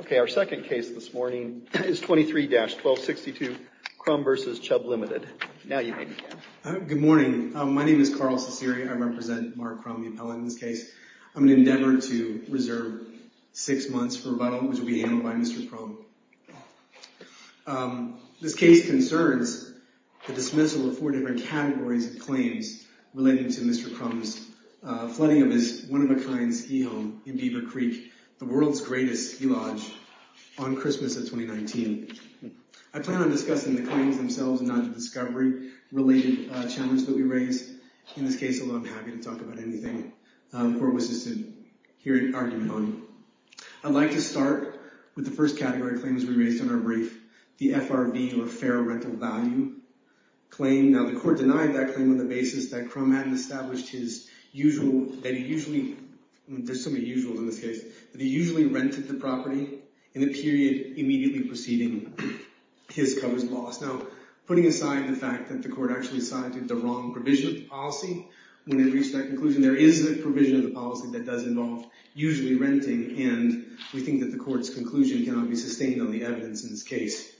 Okay, our second case this morning is 23-1262, Krum v. Chubb Limited. Now you may begin. Good morning. My name is Carl Ciceri. I represent Mark Krum, the appellant in this case. I'm going to endeavor to reserve six months for rebuttal, which will be handled by Mr. Krum. This case concerns the dismissal of four different categories of claims relating to Mr. Krum's one-of-a-kind ski home in Beaver Creek, the world's greatest ski lodge, on Christmas of 2019. I plan on discussing the claims themselves and not the discovery-related challenge that we raise. In this case, although I'm happy to talk about anything the court wishes to hear an argument on. I'd like to start with the first category of claims we raised in our brief, the FRV, or fair rental value, claim. Now the court denied that claim on the basis that Krum hadn't established his usual, that he usually, there's so many usuals in this case, that he usually rented the property in the period immediately preceding his cover's loss. Now, putting aside the fact that the court actually cited the wrong provision of the policy, when they reached that conclusion, there is a provision of the policy that does involve usually renting, and we think that the court's conclusion cannot be sustained on the evidence in this case.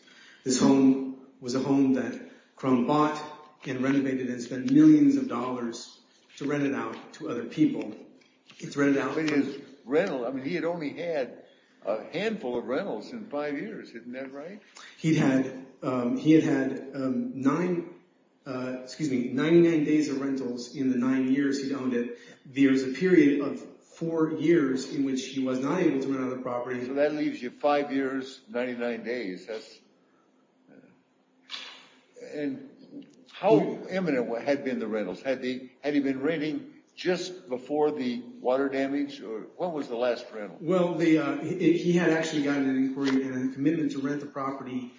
This home was a home that Krum bought and renovated and spent millions of dollars to rent it out to other people. He had only had a handful of rentals in five years, isn't that right? He had had nine, excuse me, 99 days of rentals in the nine years he'd owned it. There's a period of four years in which he was not able to rent out the property. So that leaves you five years, 99 days. And how imminent had been the rentals? Had he been renting just before the water damage, or what was the last rental? Well, he had actually gotten an inquiry and a commitment to rent the property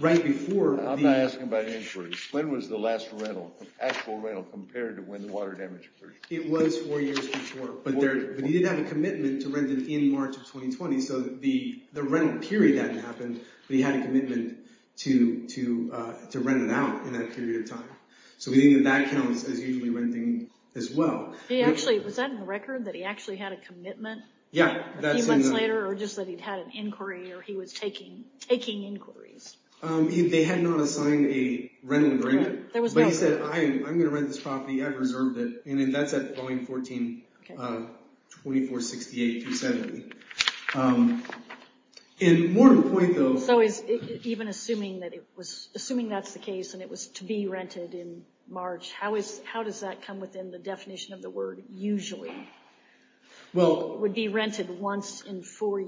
right before. I'm not asking about an inquiry. When was the last rental, actual rental, compared to when the water damage occurred? It was four years before, but he did have a commitment to rent it in March of 2020, so the rental period hadn't happened, but he had a commitment to rent it out in that period of time. So we think that that counts as usually renting as well. Was that in the record, that he actually had a commitment a few months later, or just that he'd had an inquiry or he was taking inquiries? They had not assigned a rental agreement, but he said I'm going to rent this property, I've reserved it. And that's at Boeing 14-2468-270. And more to the point, though. So even assuming that's the case, and it was to be rented in March, how does that come within the definition of the word usually? Would be rented once in four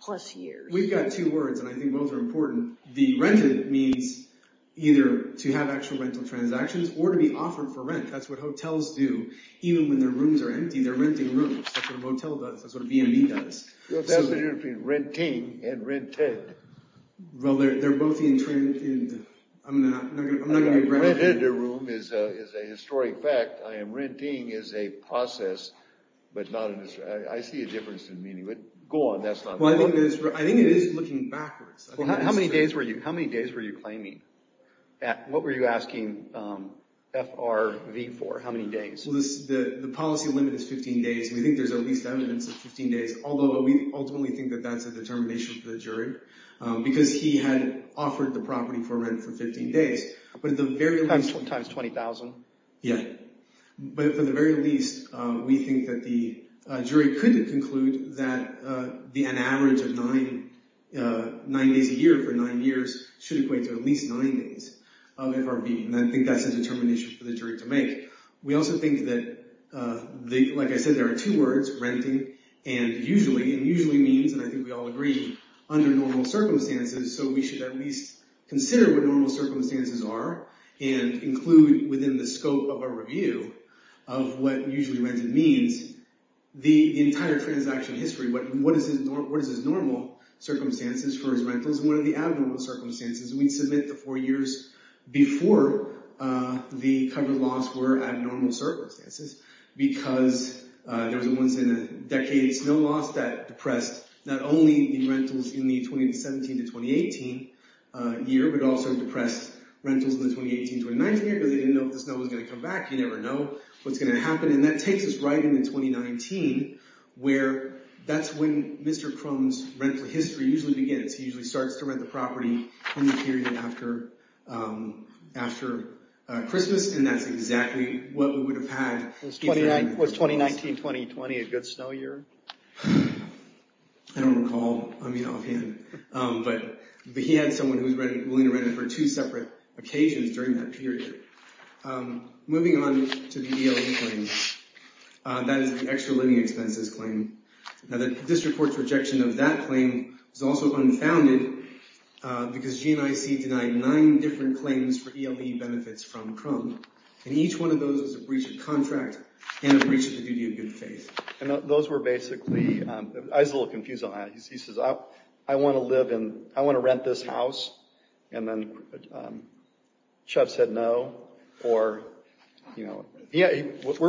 plus years. We've got two words, and I think both are important. The rented means either to have actual rental transactions or to be offered for rent. That's what hotels do. Even when their rooms are empty, they're renting rooms. That's what a motel does. That's what a B&B does. What's the difference between renting and rented? Well, they're both in trend. I'm not going to grab it. Renting a room is a historic fact. Renting is a process. I see a difference in meaning, but go on. I think it is looking backwards. How many days were you claiming? What were you asking FRV for? How many days? The policy limit is 15 days. We think there's at least evidence of 15 days, although we ultimately think that that's a determination for the jury because he had offered the property for rent for 15 days. Times 20,000. Yeah. But for the very least, we think that the jury couldn't conclude that an average of nine days a year for nine years should equate to at least nine days of FRV, and I think that's a determination for the jury to make. We also think that, like I said, there are two words, renting and usually, and usually means, and I think we all agree, under normal circumstances, so we should at least consider what normal circumstances are and include within the scope of our review of what usually rented means the entire transaction history. What is his normal circumstances for his rental? What is one of the abnormal circumstances? We submit the four years before the covered loss were abnormal circumstances because there was a once-in-a-decade snow loss that depressed not only the rentals in the 2017 to 2018 year, but also depressed rentals in the 2018-2019 year because they didn't know if the snow was going to come back. You never know what's going to happen, and that takes us right into 2019 where that's when Mr. Crum's rental history usually begins. He usually starts to rent the property in the period after Christmas, and that's exactly what we would have had. Was 2019-2020 a good snow year? I don't recall. I mean, offhand. But he had someone who was willing to rent it for two separate occasions during that period. Moving on to the ELA claim. That is the extra living expenses claim. Now, the district court's rejection of that claim was also unfounded because GNIC denied nine different claims for ELE benefits from Crum, and each one of those was a breach of contract and a breach of the duty of good faith. I was a little confused on that. He says, I want to rent this house, and then Chubb said no. Where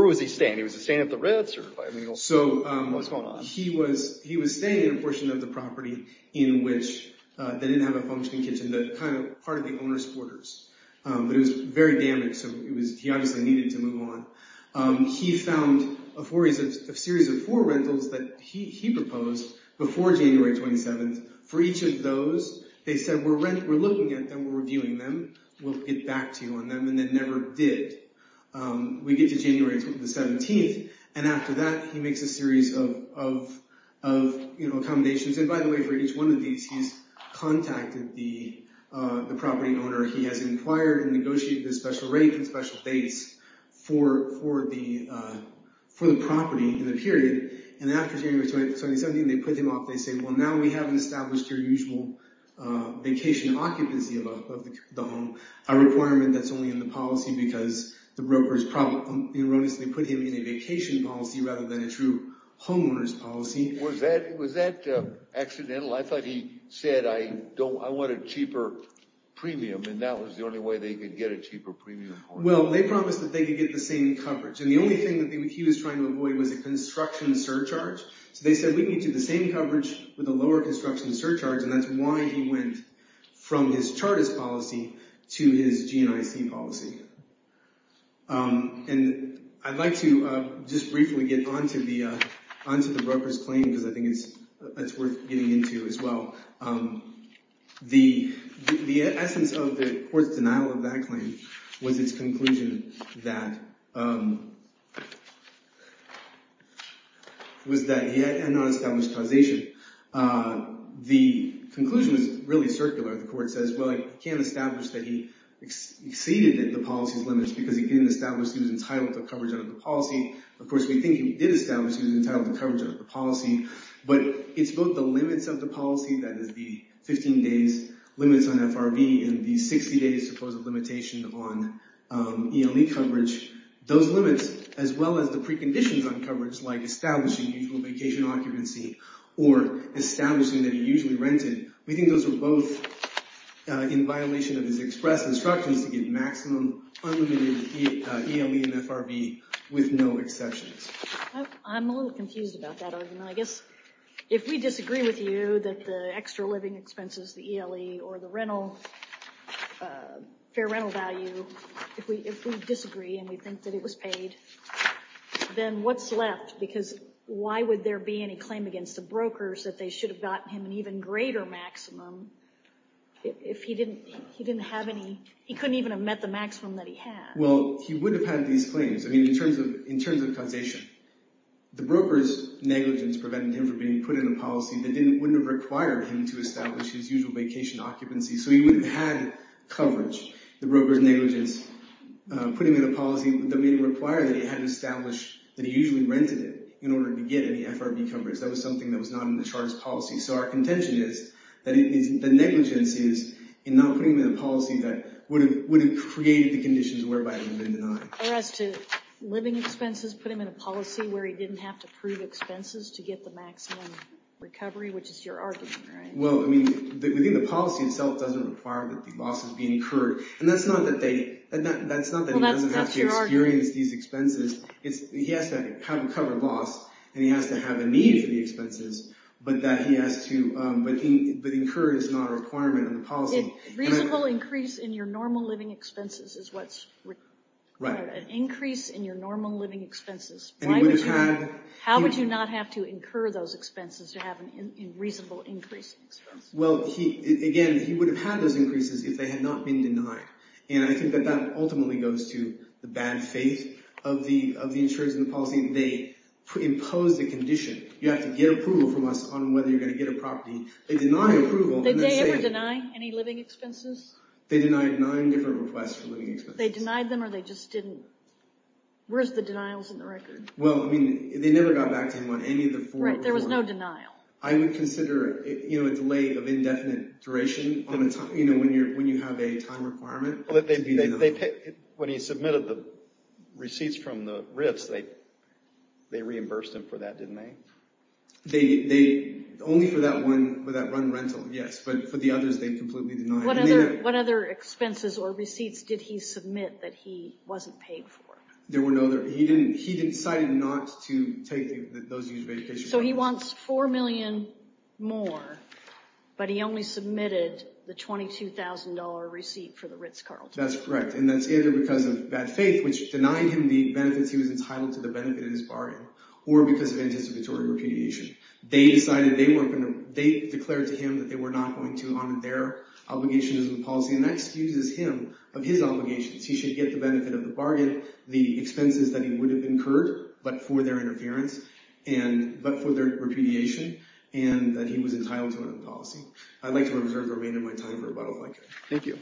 was he staying? He was staying at the Ritz, or what was going on? He was staying in a portion of the property in which they didn't have a functioning kitchen, kind of part of the owner's quarters, but it was very damaged, so he obviously needed to move on. He found a series of four rentals that he proposed before January 27th. For each of those, they said, we're looking at them, we're reviewing them, we'll get back to you on them, and they never did. We get to January 17th, and after that, he makes a series of accommodations. And by the way, for each one of these, he's contacted the property owner. He has inquired and negotiated a special rate and special base for the property in the period, and after January 27th, they put him off. They say, well, now we haven't established your usual vacation occupancy of the home, a requirement that's only in the policy, because the brokers probably erroneously put him in a vacation policy rather than a true homeowner's policy. Was that accidental? I thought he said, I want a cheaper premium, and that was the only way they could get a cheaper premium. Well, they promised that they could get the same coverage, and the only thing that he was trying to avoid was a construction surcharge. So they said, we need to do the same coverage with a lower construction surcharge, and that's why he went from his charter's policy to his GNIC policy. And I'd like to just briefly get onto the broker's claim, because I think it's worth getting into as well. The essence of the court's denial of that claim was its conclusion that he had not established causation. The conclusion is really circular. The court says, well, I can't establish that he exceeded the policy's limits because he didn't establish he was entitled to coverage under the policy. Of course, we think he did establish he was entitled to coverage under the policy, but it's both the limits of the policy, that is the 15 days limits on FRB, and the 60 days supposed limitation on ELE coverage. Those limits, as well as the preconditions on coverage, like establishing usual vacation occupancy or establishing that he usually rented, we think those are both in violation of his express instructions to get maximum unlimited ELE and FRB with no exceptions. I'm a little confused about that argument. I guess if we disagree with you that the extra living expenses, the ELE, or the rental, fair rental value, if we disagree and we think that it was paid, then what's left? Because why would there be any claim against the brokers that they should have gotten him an even greater maximum if he couldn't even have met the maximum that he had? Well, he would have had these claims. In terms of causation, the broker's negligence prevented him from being put in a policy that wouldn't have required him to establish his usual vacation occupancy, so he wouldn't have had coverage. The broker's negligence put him in a policy that made it require that he had to establish that he usually rented it in order to get any FRB coverage. That was something that was not in the charge's policy. So our contention is that the negligence is in not putting him in a policy that would have created the conditions whereby he would have been denied. Or as to living expenses, put him in a policy where he didn't have to prove expenses to get the maximum recovery, which is your argument, right? Well, I mean, I think the policy itself doesn't require that the loss is being incurred. And that's not that he doesn't have to experience these expenses. He has to have a covered loss, and he has to have a need for the expenses, but incurred is not a requirement in the policy. A reasonable increase in your normal living expenses is what's required. Right. An increase in your normal living expenses. How would you not have to incur those expenses to have a reasonable increase in expenses? Well, again, he would have had those increases if they had not been denied. And I think that that ultimately goes to the bad faith of the insurers in the policy. They imposed a condition. You have to get approval from us on whether you're going to get a property. They deny approval. Did they ever deny any living expenses? They denied nine different requests for living expenses. They denied them or they just didn't? Where's the denials in the record? Well, I mean, they never got back to him on any of the four. Right. There was no denial. I would consider a delay of indefinite duration when you have a time requirement. When he submitted the receipts from the RIFs, they reimbursed him for that, didn't they? Only for that one rental, yes. But for the others, they completely denied. What other expenses or receipts did he submit that he wasn't paid for? There were no other. He decided not to take those use of education loans. So he wants $4 million more, but he only submitted the $22,000 receipt for the Ritz Carlton. That's correct. And that's either because of bad faith, which denied him the benefits he was entitled to, the benefit of his borrowing, or because of anticipatory repudiation. They declared to him that they were not going to honor their obligation as a policy, and that excuses him of his obligations. He should get the benefit of the bargain, the expenses that he would have incurred, but for their interference, but for their repudiation, and that he was entitled to a policy. I'd like to reserve the remainder of my time for rebuttal, if I could. Thank you.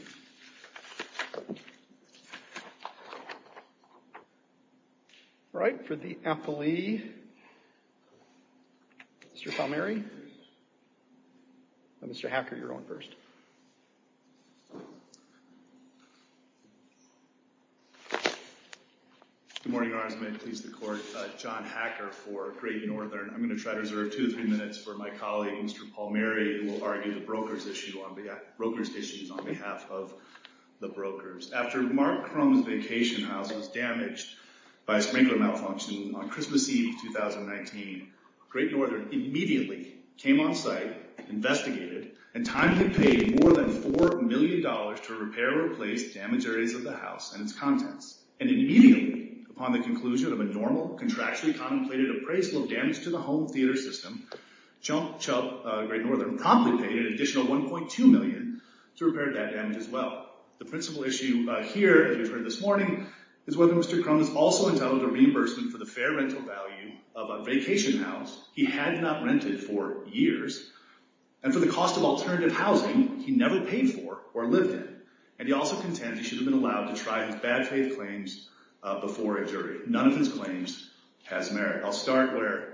All right. For the appellee, Mr. Palmieri. Mr. Hacker, you're on first. Good morning, Your Honor. I'm going to please the Court. John Hacker for Great Northern. I'm going to try to reserve two or three minutes for my colleague, Mr. Palmieri, who will argue the broker's issues on behalf of the brokers. After Mark Crum's vacation house was damaged by sprinkler malfunction on Christmas Eve 2019, Great Northern immediately came on site, investigated, and timely paid more than $4 million to repair or replace damaged areas of the house and its contents. And immediately, upon the conclusion of a normal, contractually contemplated appraisal of damage to the home theater system, Great Northern promptly paid an additional $1.2 million to repair that damage as well. The principal issue here, as we've heard this morning, is whether Mr. Crum is also entitled to reimbursement for the fair rental value of a vacation house he had not rented for years, and for the cost of alternative housing he never paid for or lived in. And he also contends he should have been allowed to try his bad faith claims before a jury. None of his claims has merit. I'll start where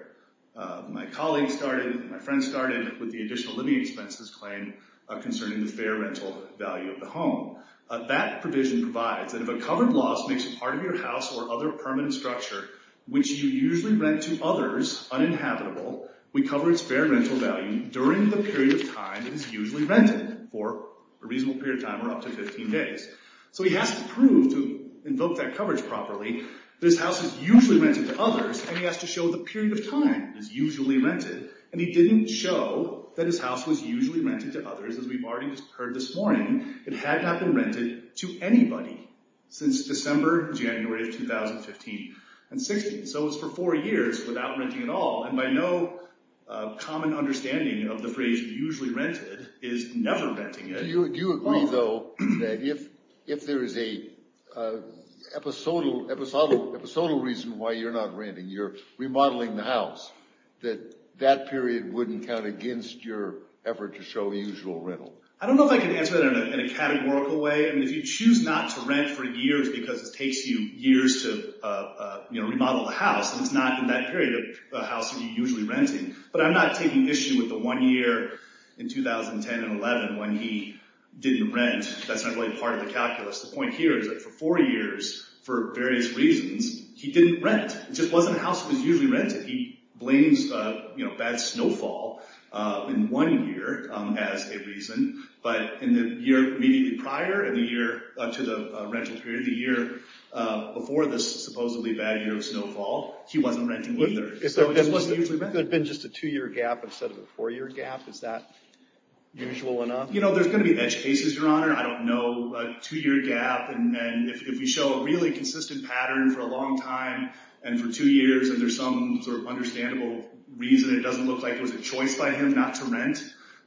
my colleague started, my friend started, with the additional living expenses claim concerning the fair rental value of the home. That provision provides that if a covered loss makes a part of your house or other permanent structure which you usually rent to others, uninhabitable, we cover its fair rental value during the period of time it is usually rented for a reasonable period of time or up to 15 days. So he has to prove, to invoke that coverage properly, this house is usually rented to others, and he has to show the period of time it is usually rented. And he didn't show that his house was usually rented to others, as we've already heard this morning. It had not been rented to anybody since December, January of 2015. So it was for four years without renting at all, and by no common understanding of the phrase usually rented is never renting at all. Do you agree, though, that if there is an episodal reason why you're not renting, you're remodeling the house, that that period wouldn't count against your effort to show usual rental? I don't know if I can answer that in a categorical way. I mean, if you choose not to rent for years because it takes you years to, you know, remodel the house, then it's not in that period of the house that you're usually renting. But I'm not taking issue with the one year in 2010 and 11 when he didn't rent. That's not really part of the calculus. The point here is that for four years, for various reasons, he didn't rent. It just wasn't a house that was usually rented. He blames, you know, bad snowfall in one year as a reason, but in the year immediately prior to the rental period, the year before this supposedly bad year of snowfall, he wasn't renting either. If there had been just a two-year gap instead of a four-year gap, is that usual enough? You know, there's going to be edge cases, Your Honor. I don't know a two-year gap. And if we show a really consistent pattern for a long time and for two years, and there's some sort of understandable reason it doesn't look like it was a choice by him not to rent,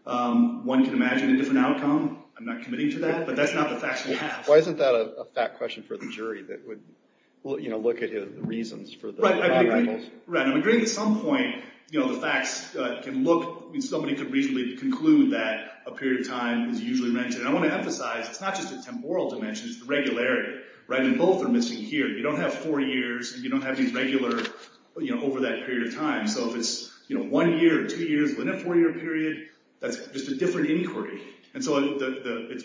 one can imagine a different outcome. I'm not committing to that, but that's not the facts we have. Why isn't that a fact question for the jury that would, you know, look at his reasons for the rentals? Right. I'm agreeing at some point, you know, the facts can look, somebody could reasonably conclude that a period of time is usually rented. I want to emphasize it's not just a temporal dimension. It's the regularity, right? And both are missing here. You don't have four years. You don't have these regular, you know, over that period of time. So if it's, you know, one year or two years within a four-year period, that's just a different inquiry. And so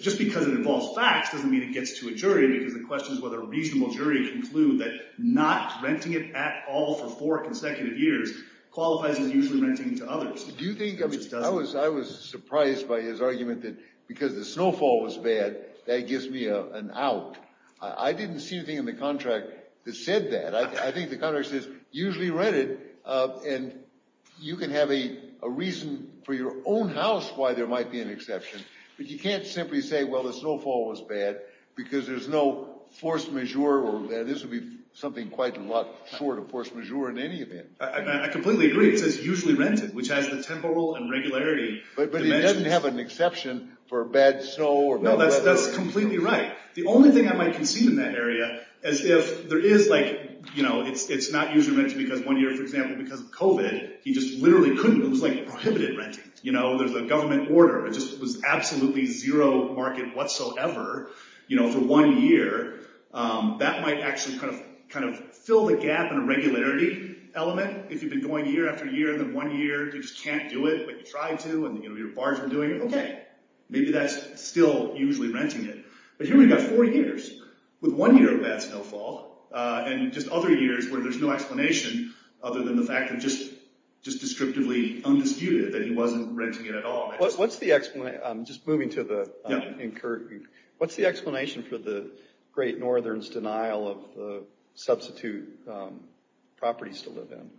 just because it involves facts doesn't mean it gets to a jury because the question is whether a reasonable jury would conclude that not renting it at all for four consecutive years qualifies as usually renting to others. Do you think, I mean, I was surprised by his argument that because the snowfall was bad, that gives me an out. I didn't see anything in the contract that said that. I think the contract says usually rent it, and you can have a reason for your own house why there might be an exception, but you can't simply say, well, the snowfall was bad because there's no force majeure, or this would be something quite a lot short of force majeure in any event. I completely agree. It says usually rented, which has the temporal and regularity dimensions. But it doesn't have an exception for bad snow or bad weather. No, that's completely right. The only thing I might concede in that area is if there is like, you know, it's not usually rented because one year, for example, because of COVID, he just literally couldn't. It was like prohibited renting. You know, there's a government order. It just was absolutely zero market whatsoever, you know, for one year. That might actually kind of fill the gap in a regularity element. If you've been going year after year, then one year you just can't do it, but you try to, and, you know, your bars are doing it. Okay. Maybe that's still usually renting it. But here we've got four years with one year of bad snowfall and just other years where there's no explanation other than the fact that just descriptively undisputed that he wasn't renting it at all. What's the explanation? I'm just moving to the incurred. What's the explanation for the Great Northern's denial of the substitute properties to live in?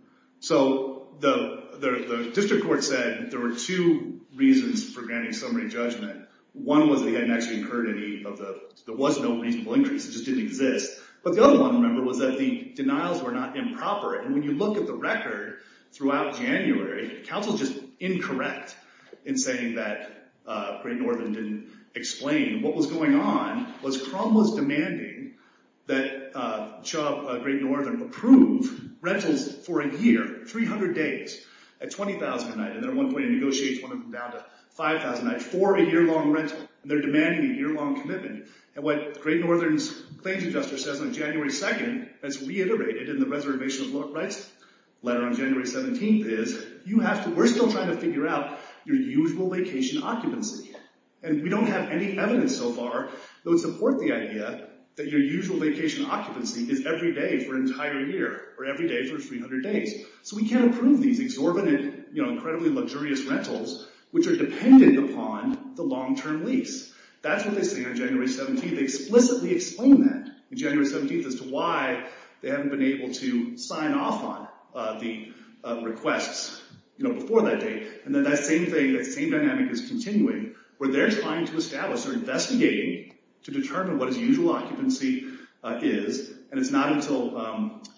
So the district court said there were two reasons for granting summary judgment. One was they hadn't actually incurred any of the – there was no reasonable increase. It just didn't exist. But the other one, remember, was that the denials were not improper. And when you look at the record throughout January, counsel's just incorrect in saying that Great Northern didn't explain. What was going on was Crum was demanding that Great Northern approve rentals for a year, 300 days, at $20,000 a night. And then at one point he negotiates one of them down to $5,000 a night for a year-long rental, and they're demanding a year-long commitment. And what Great Northern's claims adjuster says on January 2nd, as reiterated in the Reservation of Local Rights letter on January 17th, is you have to – we're still trying to figure out your usual vacation occupancy. And we don't have any evidence so far that would support the idea that your usual vacation occupancy is every day for an entire year or every day for 300 days. So we can't approve these exorbitant, incredibly luxurious rentals, which are dependent upon the long-term lease. That's what they say on January 17th. They explicitly explain that on January 17th as to why they haven't been able to sign off on the requests before that date. And then that same thing, that same dynamic is continuing where they're trying to establish or investigating to determine what his usual occupancy is. And it's not until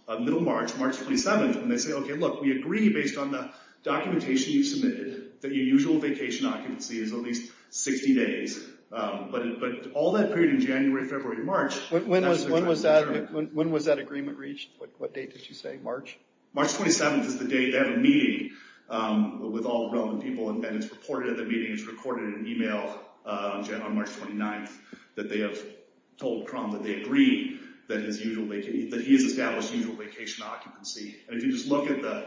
the middle of March, March 27th, when they say, Okay, look, we agree based on the documentation you've submitted that your usual vacation occupancy is at least 60 days. But all that period in January, February, and March— When was that agreement reached? What date did you say, March? March 27th is the date. They have a meeting with all the Roman people, and then it's reported at the meeting. It's recorded in an email on March 29th that they have told Crum that they agree that he has established usual vacation occupancy. And if you just look at the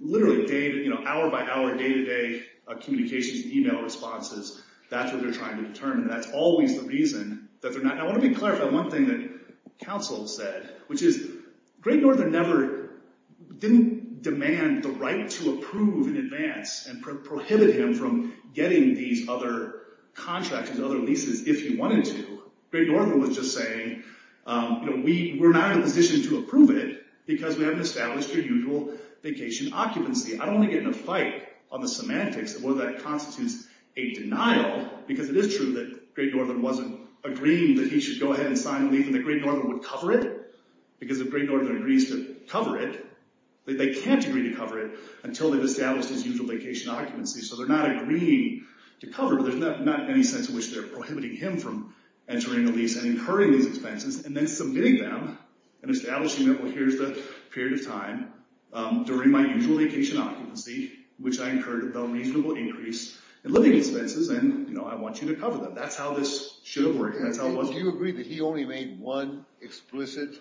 literally hour-by-hour, day-to-day communications and email responses, that's what they're trying to determine. That's always the reason that they're not— Now, let me clarify one thing that counsel said, which is Great Northern never— didn't demand the right to approve in advance and prohibit him from getting these other contracts and other leases if he wanted to. Great Northern was just saying, we're not in a position to approve it because we haven't established your usual vacation occupancy. I don't want to get in a fight on the semantics of whether that constitutes a denial, because it is true that Great Northern wasn't agreeing that he should go ahead and sign a lease and that Great Northern would cover it, because if Great Northern agrees to cover it, they can't agree to cover it until they've established his usual vacation occupancy. So they're not agreeing to cover, but there's not any sense in which they're prohibiting him from entering a lease and incurring these expenses and then submitting them and establishing that, well, here's the period of time during my usual vacation occupancy, which I incurred a reasonable increase in living expenses, and I want you to cover them. That's how this should have worked. That's how it was. Well, do you agree that he only made one explicit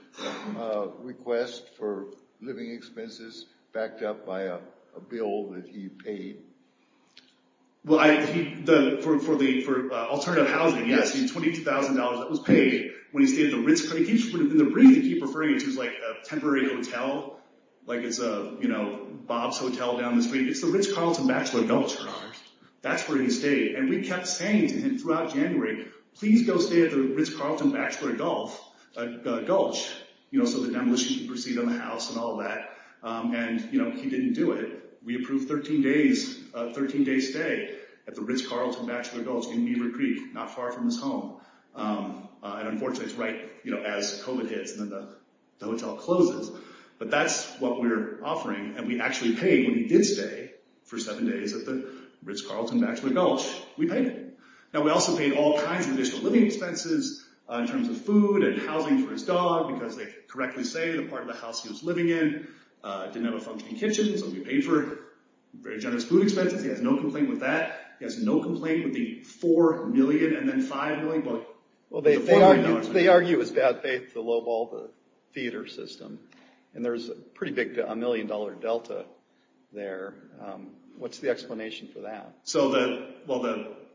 request for living expenses backed up by a bill that he paid? Well, for the alternative housing, yes. He had $22,000 that was paid when he stayed at the Ritz Carlton. In the brief, they keep referring to it as a temporary hotel, like it's Bob's Hotel down the street. It's the Ritz Carlton Bachelor Gulch House. That's where he stayed. And we kept saying to him throughout January, please go stay at the Ritz Carlton Bachelor Gulch, so the demolition can proceed on the house and all that. And he didn't do it. We approved a 13-day stay at the Ritz Carlton Bachelor Gulch in Beaver Creek, not far from his home. And unfortunately, it's right as COVID hits and the hotel closes. But that's what we're offering. And we actually paid when he did stay for seven days at the Ritz Carlton Bachelor Gulch. We paid it. Now, we also paid all kinds of additional living expenses in terms of food and housing for his dog, because they correctly say the part of the house he was living in didn't have a functioning kitchen, so we paid for very generous food expenses. He has no complaint with that. He has no complaint with the $4 million and then $5 million. Well, they argue it was bad faith, the lowball, the theater system. And there's a pretty big million-dollar delta there. What's the explanation for that? Well,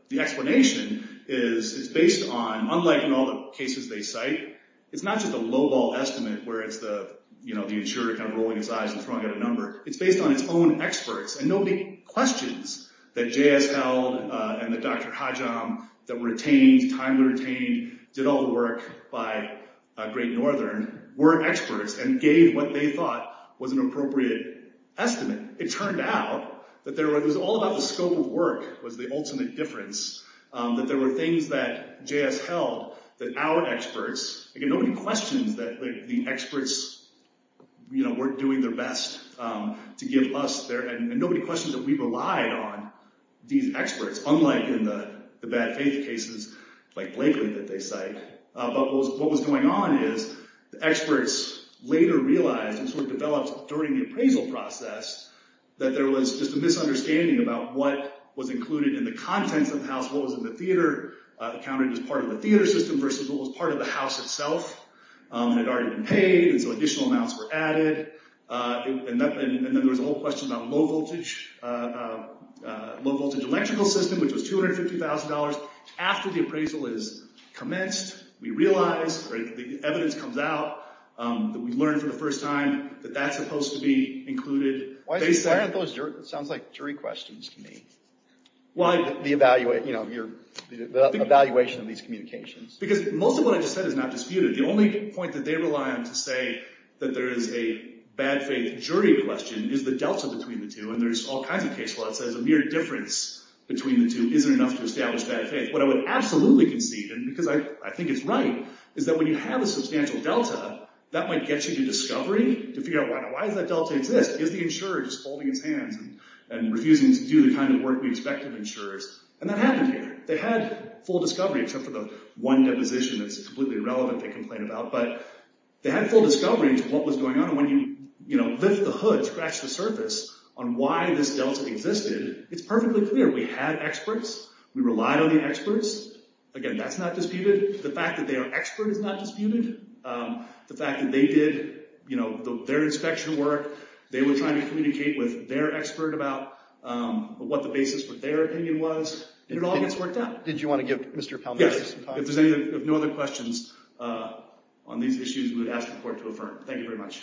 the explanation is it's based on, unlike in all the cases they cite, it's not just a lowball estimate where it's the insurer kind of rolling his eyes and throwing out a number. It's based on its own experts. And nobody questions that J.S. Held and the Dr. Hajam that were retained, timely retained, did all the work by Great Northern, were experts and gave what they thought was an appropriate estimate. It turned out that it was all about the scope of work was the ultimate difference, that there were things that J.S. Held, that our experts— again, nobody questions that the experts weren't doing their best to give us their— and nobody questions that we relied on these experts, unlike in the bad faith cases like Blakely that they cite. But what was going on is the experts later realized and sort of developed during the appraisal process that there was just a misunderstanding about what was included in the contents of the house, what was in the theater, accounted as part of the theater system versus what was part of the house itself. And then there was a whole question about low-voltage electrical system, which was $250,000. After the appraisal is commenced, we realize, the evidence comes out, that we learned for the first time that that's supposed to be included. Why aren't those jury questions to me? The evaluation of these communications. Because most of what I just said is not disputed. The only point that they rely on to say that there is a bad faith jury question is the delta between the two. And there's all kinds of case law that says a mere difference between the two isn't enough to establish bad faith. What I would absolutely concede, and because I think it's right, is that when you have a substantial delta, that might get you to discovery, to figure out why does that delta exist? Is the insurer just folding its hands and refusing to do the kind of work we expect of insurers? And that happened here. They had full discovery, except for the one deposition that's completely irrelevant. I don't know what they complain about. But they had full discovery as to what was going on. And when you lift the hood, scratch the surface, on why this delta existed, it's perfectly clear. We had experts. We relied on the experts. Again, that's not disputed. The fact that they are experts is not disputed. The fact that they did their inspection work, they were trying to communicate with their expert about what the basis for their opinion was, it all gets worked out. Did you want to give Mr. Palmeiris some time? If there's no other questions on these issues, we would ask the Court to affirm. Thank you very much.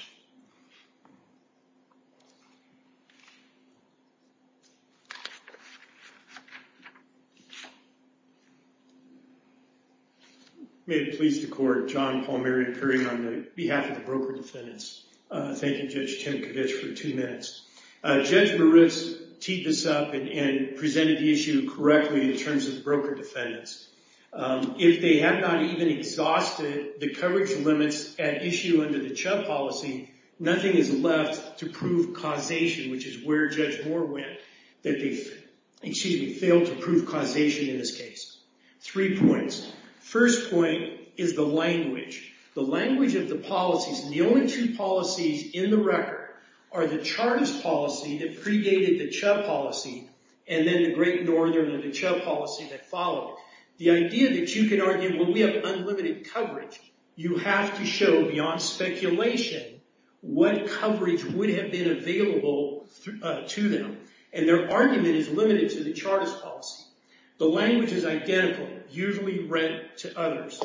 May it please the Court, John Palmeiris occurring on behalf of the broker defendants. Thank you, Judge Tinkovich, for two minutes. Judge Moritz teed this up and presented the issue correctly in terms of the broker defendants. If they have not even exhausted the coverage limits at issue under the Chubb policy, nothing is left to prove causation, which is where Judge Moore went, that they failed to prove causation in this case. Three points. First point is the language. The language of the policies, and the only two policies in the record, are the Chartist policy that predated the Chubb policy, and then the Great Northern and the Chubb policy that followed. The idea that you can argue when we have unlimited coverage, you have to show beyond speculation what coverage would have been available to them, and their argument is limited to the Chartist policy. The language is identical, usually read to others.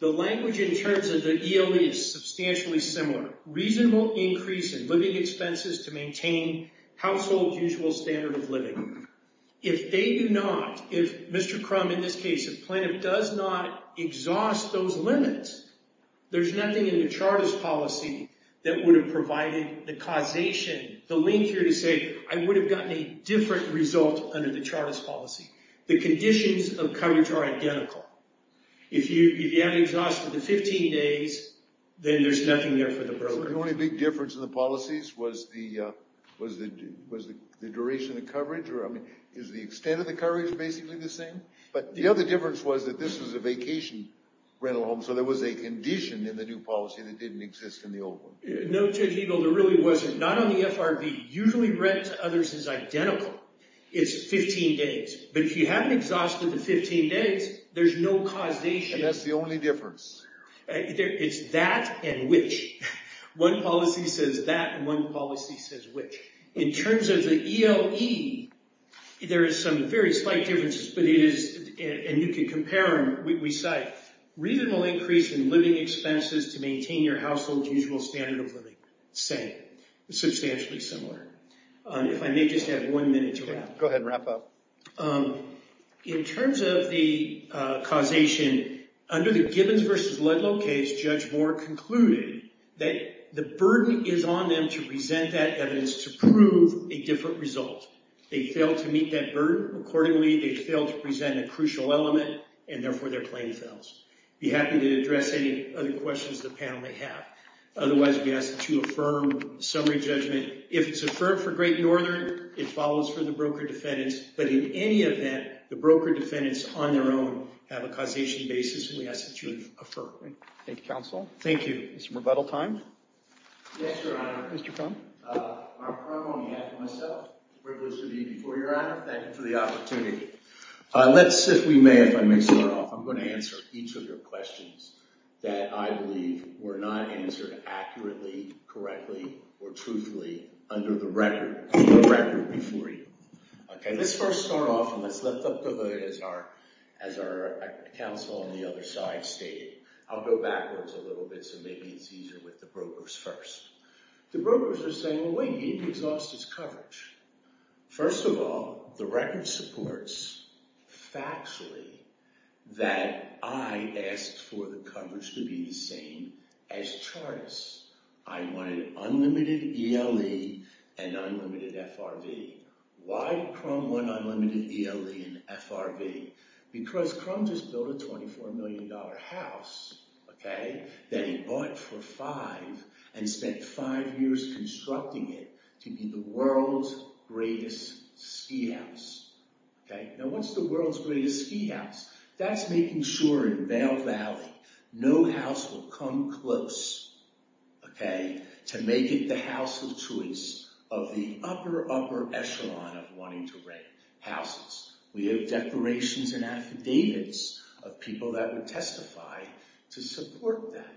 The language in terms of the ELE is substantially similar. Reasonable increase in living expenses to maintain household's usual standard of living. If they do not, if Mr. Crum, in this case, a plaintiff, does not exhaust those limits, there's nothing in the Chartist policy that would have provided the causation, the link here to say, I would have gotten a different result under the Chartist policy. The conditions of coverage are identical. If you haven't exhausted the 15 days, then there's nothing there for the broker. So the only big difference in the policies was the duration of coverage, or I mean, is the extent of the coverage basically the same? But the other difference was that this was a vacation rental home, so there was a condition in the new policy that didn't exist in the old one. No, Judge Eagle, there really wasn't. Not on the FRB. Usually read to others is identical. It's 15 days. But if you haven't exhausted the 15 days, there's no causation. And that's the only difference. It's that and which. One policy says that, and one policy says which. In terms of the ELE, there is some very slight differences, but it is, and you can compare and recite, reasonable increase in living expenses to maintain your household's usual standard of living. Same. Substantially similar. If I may just have one minute to wrap up. Go ahead and wrap up. In terms of the causation, under the Gibbons v. Ludlow case, Judge Moore concluded that the burden is on them to present that evidence to prove a different result. They failed to meet that burden accordingly. They failed to present a crucial element, and therefore their claim fails. I'd be happy to address any other questions the panel may have. Otherwise, we ask that you affirm summary judgment. If it's affirmed for Great Northern, it follows for the broker defendants. But in any event, the broker defendants on their own have a causation basis, and we ask that you affirm. Thank you, Counsel. Thank you. Is it rebuttal time? Yes, Your Honor. Mr. Crum. I'm Crum on behalf of myself. It's a privilege to be before Your Honor. Thank you for the opportunity. Let's, if we may, if I may start off, I'm going to answer each of your questions that I believe were not answered accurately, correctly, or truthfully under the record before you. Okay, let's first start off and let's lift up the hood as our counsel on the other side stated. I'll go backwards a little bit so maybe it's easier with the brokers first. The brokers are saying, well, wait, you need to exhaust his coverage. First of all, the record supports factually that I asked for the coverage to be the same as Chartist. I wanted unlimited ELE and unlimited FRV. Why did Crum want unlimited ELE and FRV? Because Crum just built a $24 million house, okay, that he bought for five and spent five years constructing it to be the world's greatest ski house, okay? Now, what's the world's greatest ski house? That's making sure in Bell Valley no house will come close, okay, to make it the house of choice of the upper, upper echelon of wanting to rent houses. We have declarations and affidavits of people that would testify to support that.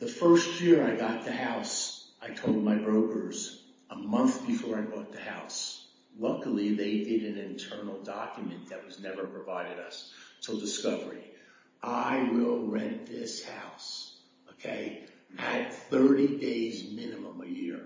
The first year I got the house, I told my brokers a month before I bought the house. Luckily, they did an internal document that was never provided us till discovery. I will rent this house, okay, at 30 days minimum a year.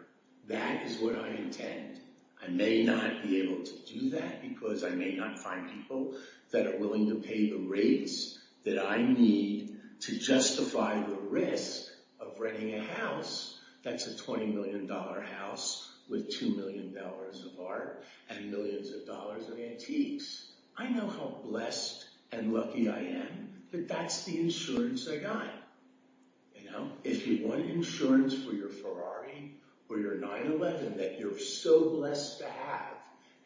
That is what I intend. I may not be able to do that because I may not find people that are willing to pay the rates that I need to justify the risk of renting a house that's a $20 million house with $2 million of art and millions of dollars of antiques. I know how blessed and lucky I am that that's the insurance I got, you know? If you want insurance for your Ferrari or your 911 that you're so blessed to have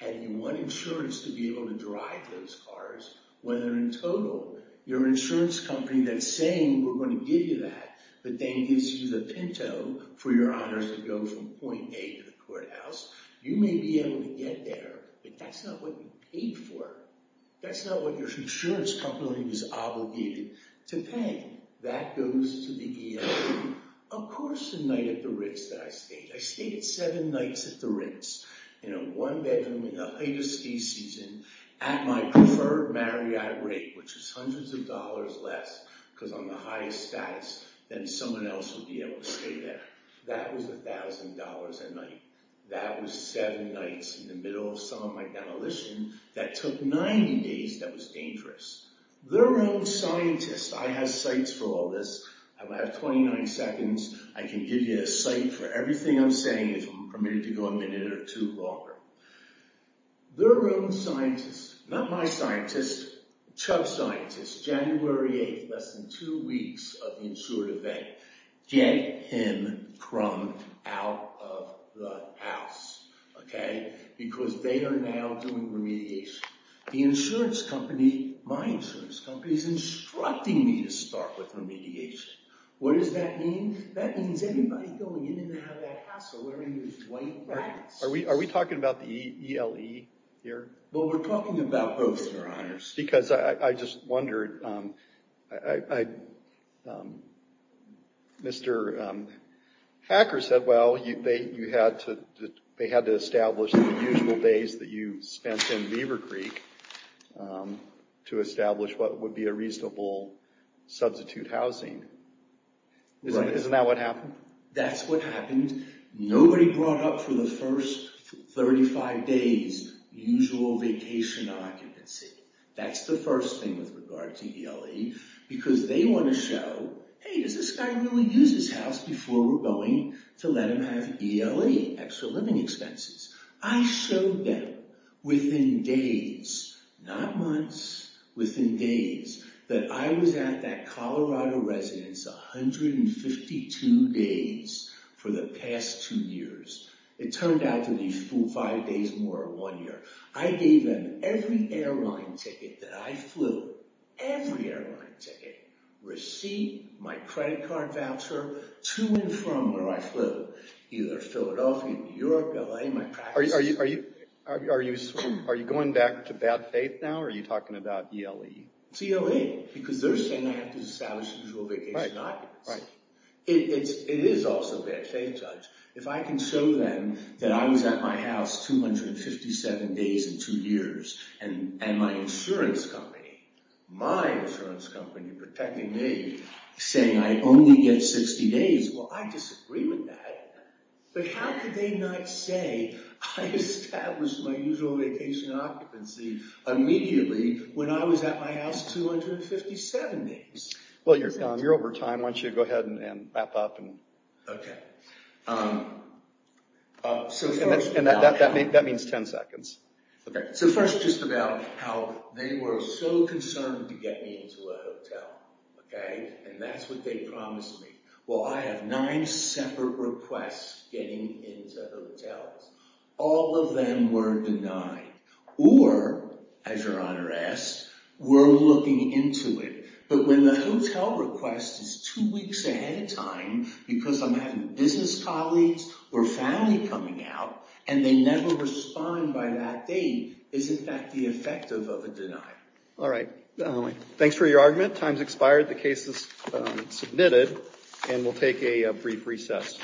and you want insurance to be able to drive those cars, whether in total your insurance company that's saying we're going to give you that but then gives you the pinto for your honors to go from point A to the courthouse, you may be able to get there, but that's not what you paid for. That's not what your insurance company was obligated to pay. That goes to the ELA. Of course, the night at the Ritz that I stayed. I stayed seven nights at the Ritz. In a one-bedroom in the height of ski season at my preferred Marriott rate, which was hundreds of dollars less because I'm the highest status, then someone else would be able to stay there. That was $1,000 a night. That was seven nights in the middle of some of my demolition that took 90 days. That was dangerous. There are no scientists. I have sites for all this. I have 29 seconds. I can give you a site for everything I'm saying if I'm permitted to go a minute or two longer. There are no scientists. Not my scientists. Chubb scientists. January 8th, less than two weeks of the insured event. Get him crumped out of the house because they are now doing remediation. The insurance company, my insurance company, is instructing me to start with remediation. What does that mean? That means anybody going in and out of that house are wearing these white hats. Are we talking about the ELE here? Well, we're talking about both, your honors. Because I just wondered, Mr. Hacker said, well, they had to establish the usual days that you spent in Beaver Creek to establish what would be a reasonable substitute housing. Isn't that what happened? That's what happened. Nobody brought up for the first 35 days usual vacation occupancy. That's the first thing with regard to ELE because they want to show, hey, does this guy really use his house before we're going to let him have ELE, extra living expenses? I showed them within days, not months, within days, that I was at that Colorado residence 152 days for the past two years. It turned out to be five days more in one year. I gave them every airline ticket that I flew, every airline ticket, receipt, my credit card voucher, to and from where I flew, either Philadelphia, New York, LA, my practice. Are you going back to bad faith now or are you talking about ELE? It's ELE because they're saying I have to establish usual vacation occupancy. It is also bad faith, Judge. If I can show them that I was at my house 257 days in two years and my insurance company, my insurance company protecting me, saying I only get 60 days, well, I disagree with that. But how could they not say I established my usual vacation occupancy immediately when I was at my house 257 days? Well, you're over time. Why don't you go ahead and wrap up. Okay. And that means 10 seconds. So first just about how they were so concerned to get me into a hotel. Okay, and that's what they promised me. Well, I have nine separate requests getting into hotels. All of them were denied. Or, as Your Honor asked, we're looking into it. But when the hotel request is two weeks ahead of time because I'm having business colleagues or family coming out and they never respond by that date, isn't that the effect of a denial? All right. Thanks for your argument. Time's expired. The case is submitted. And we'll take a brief recess.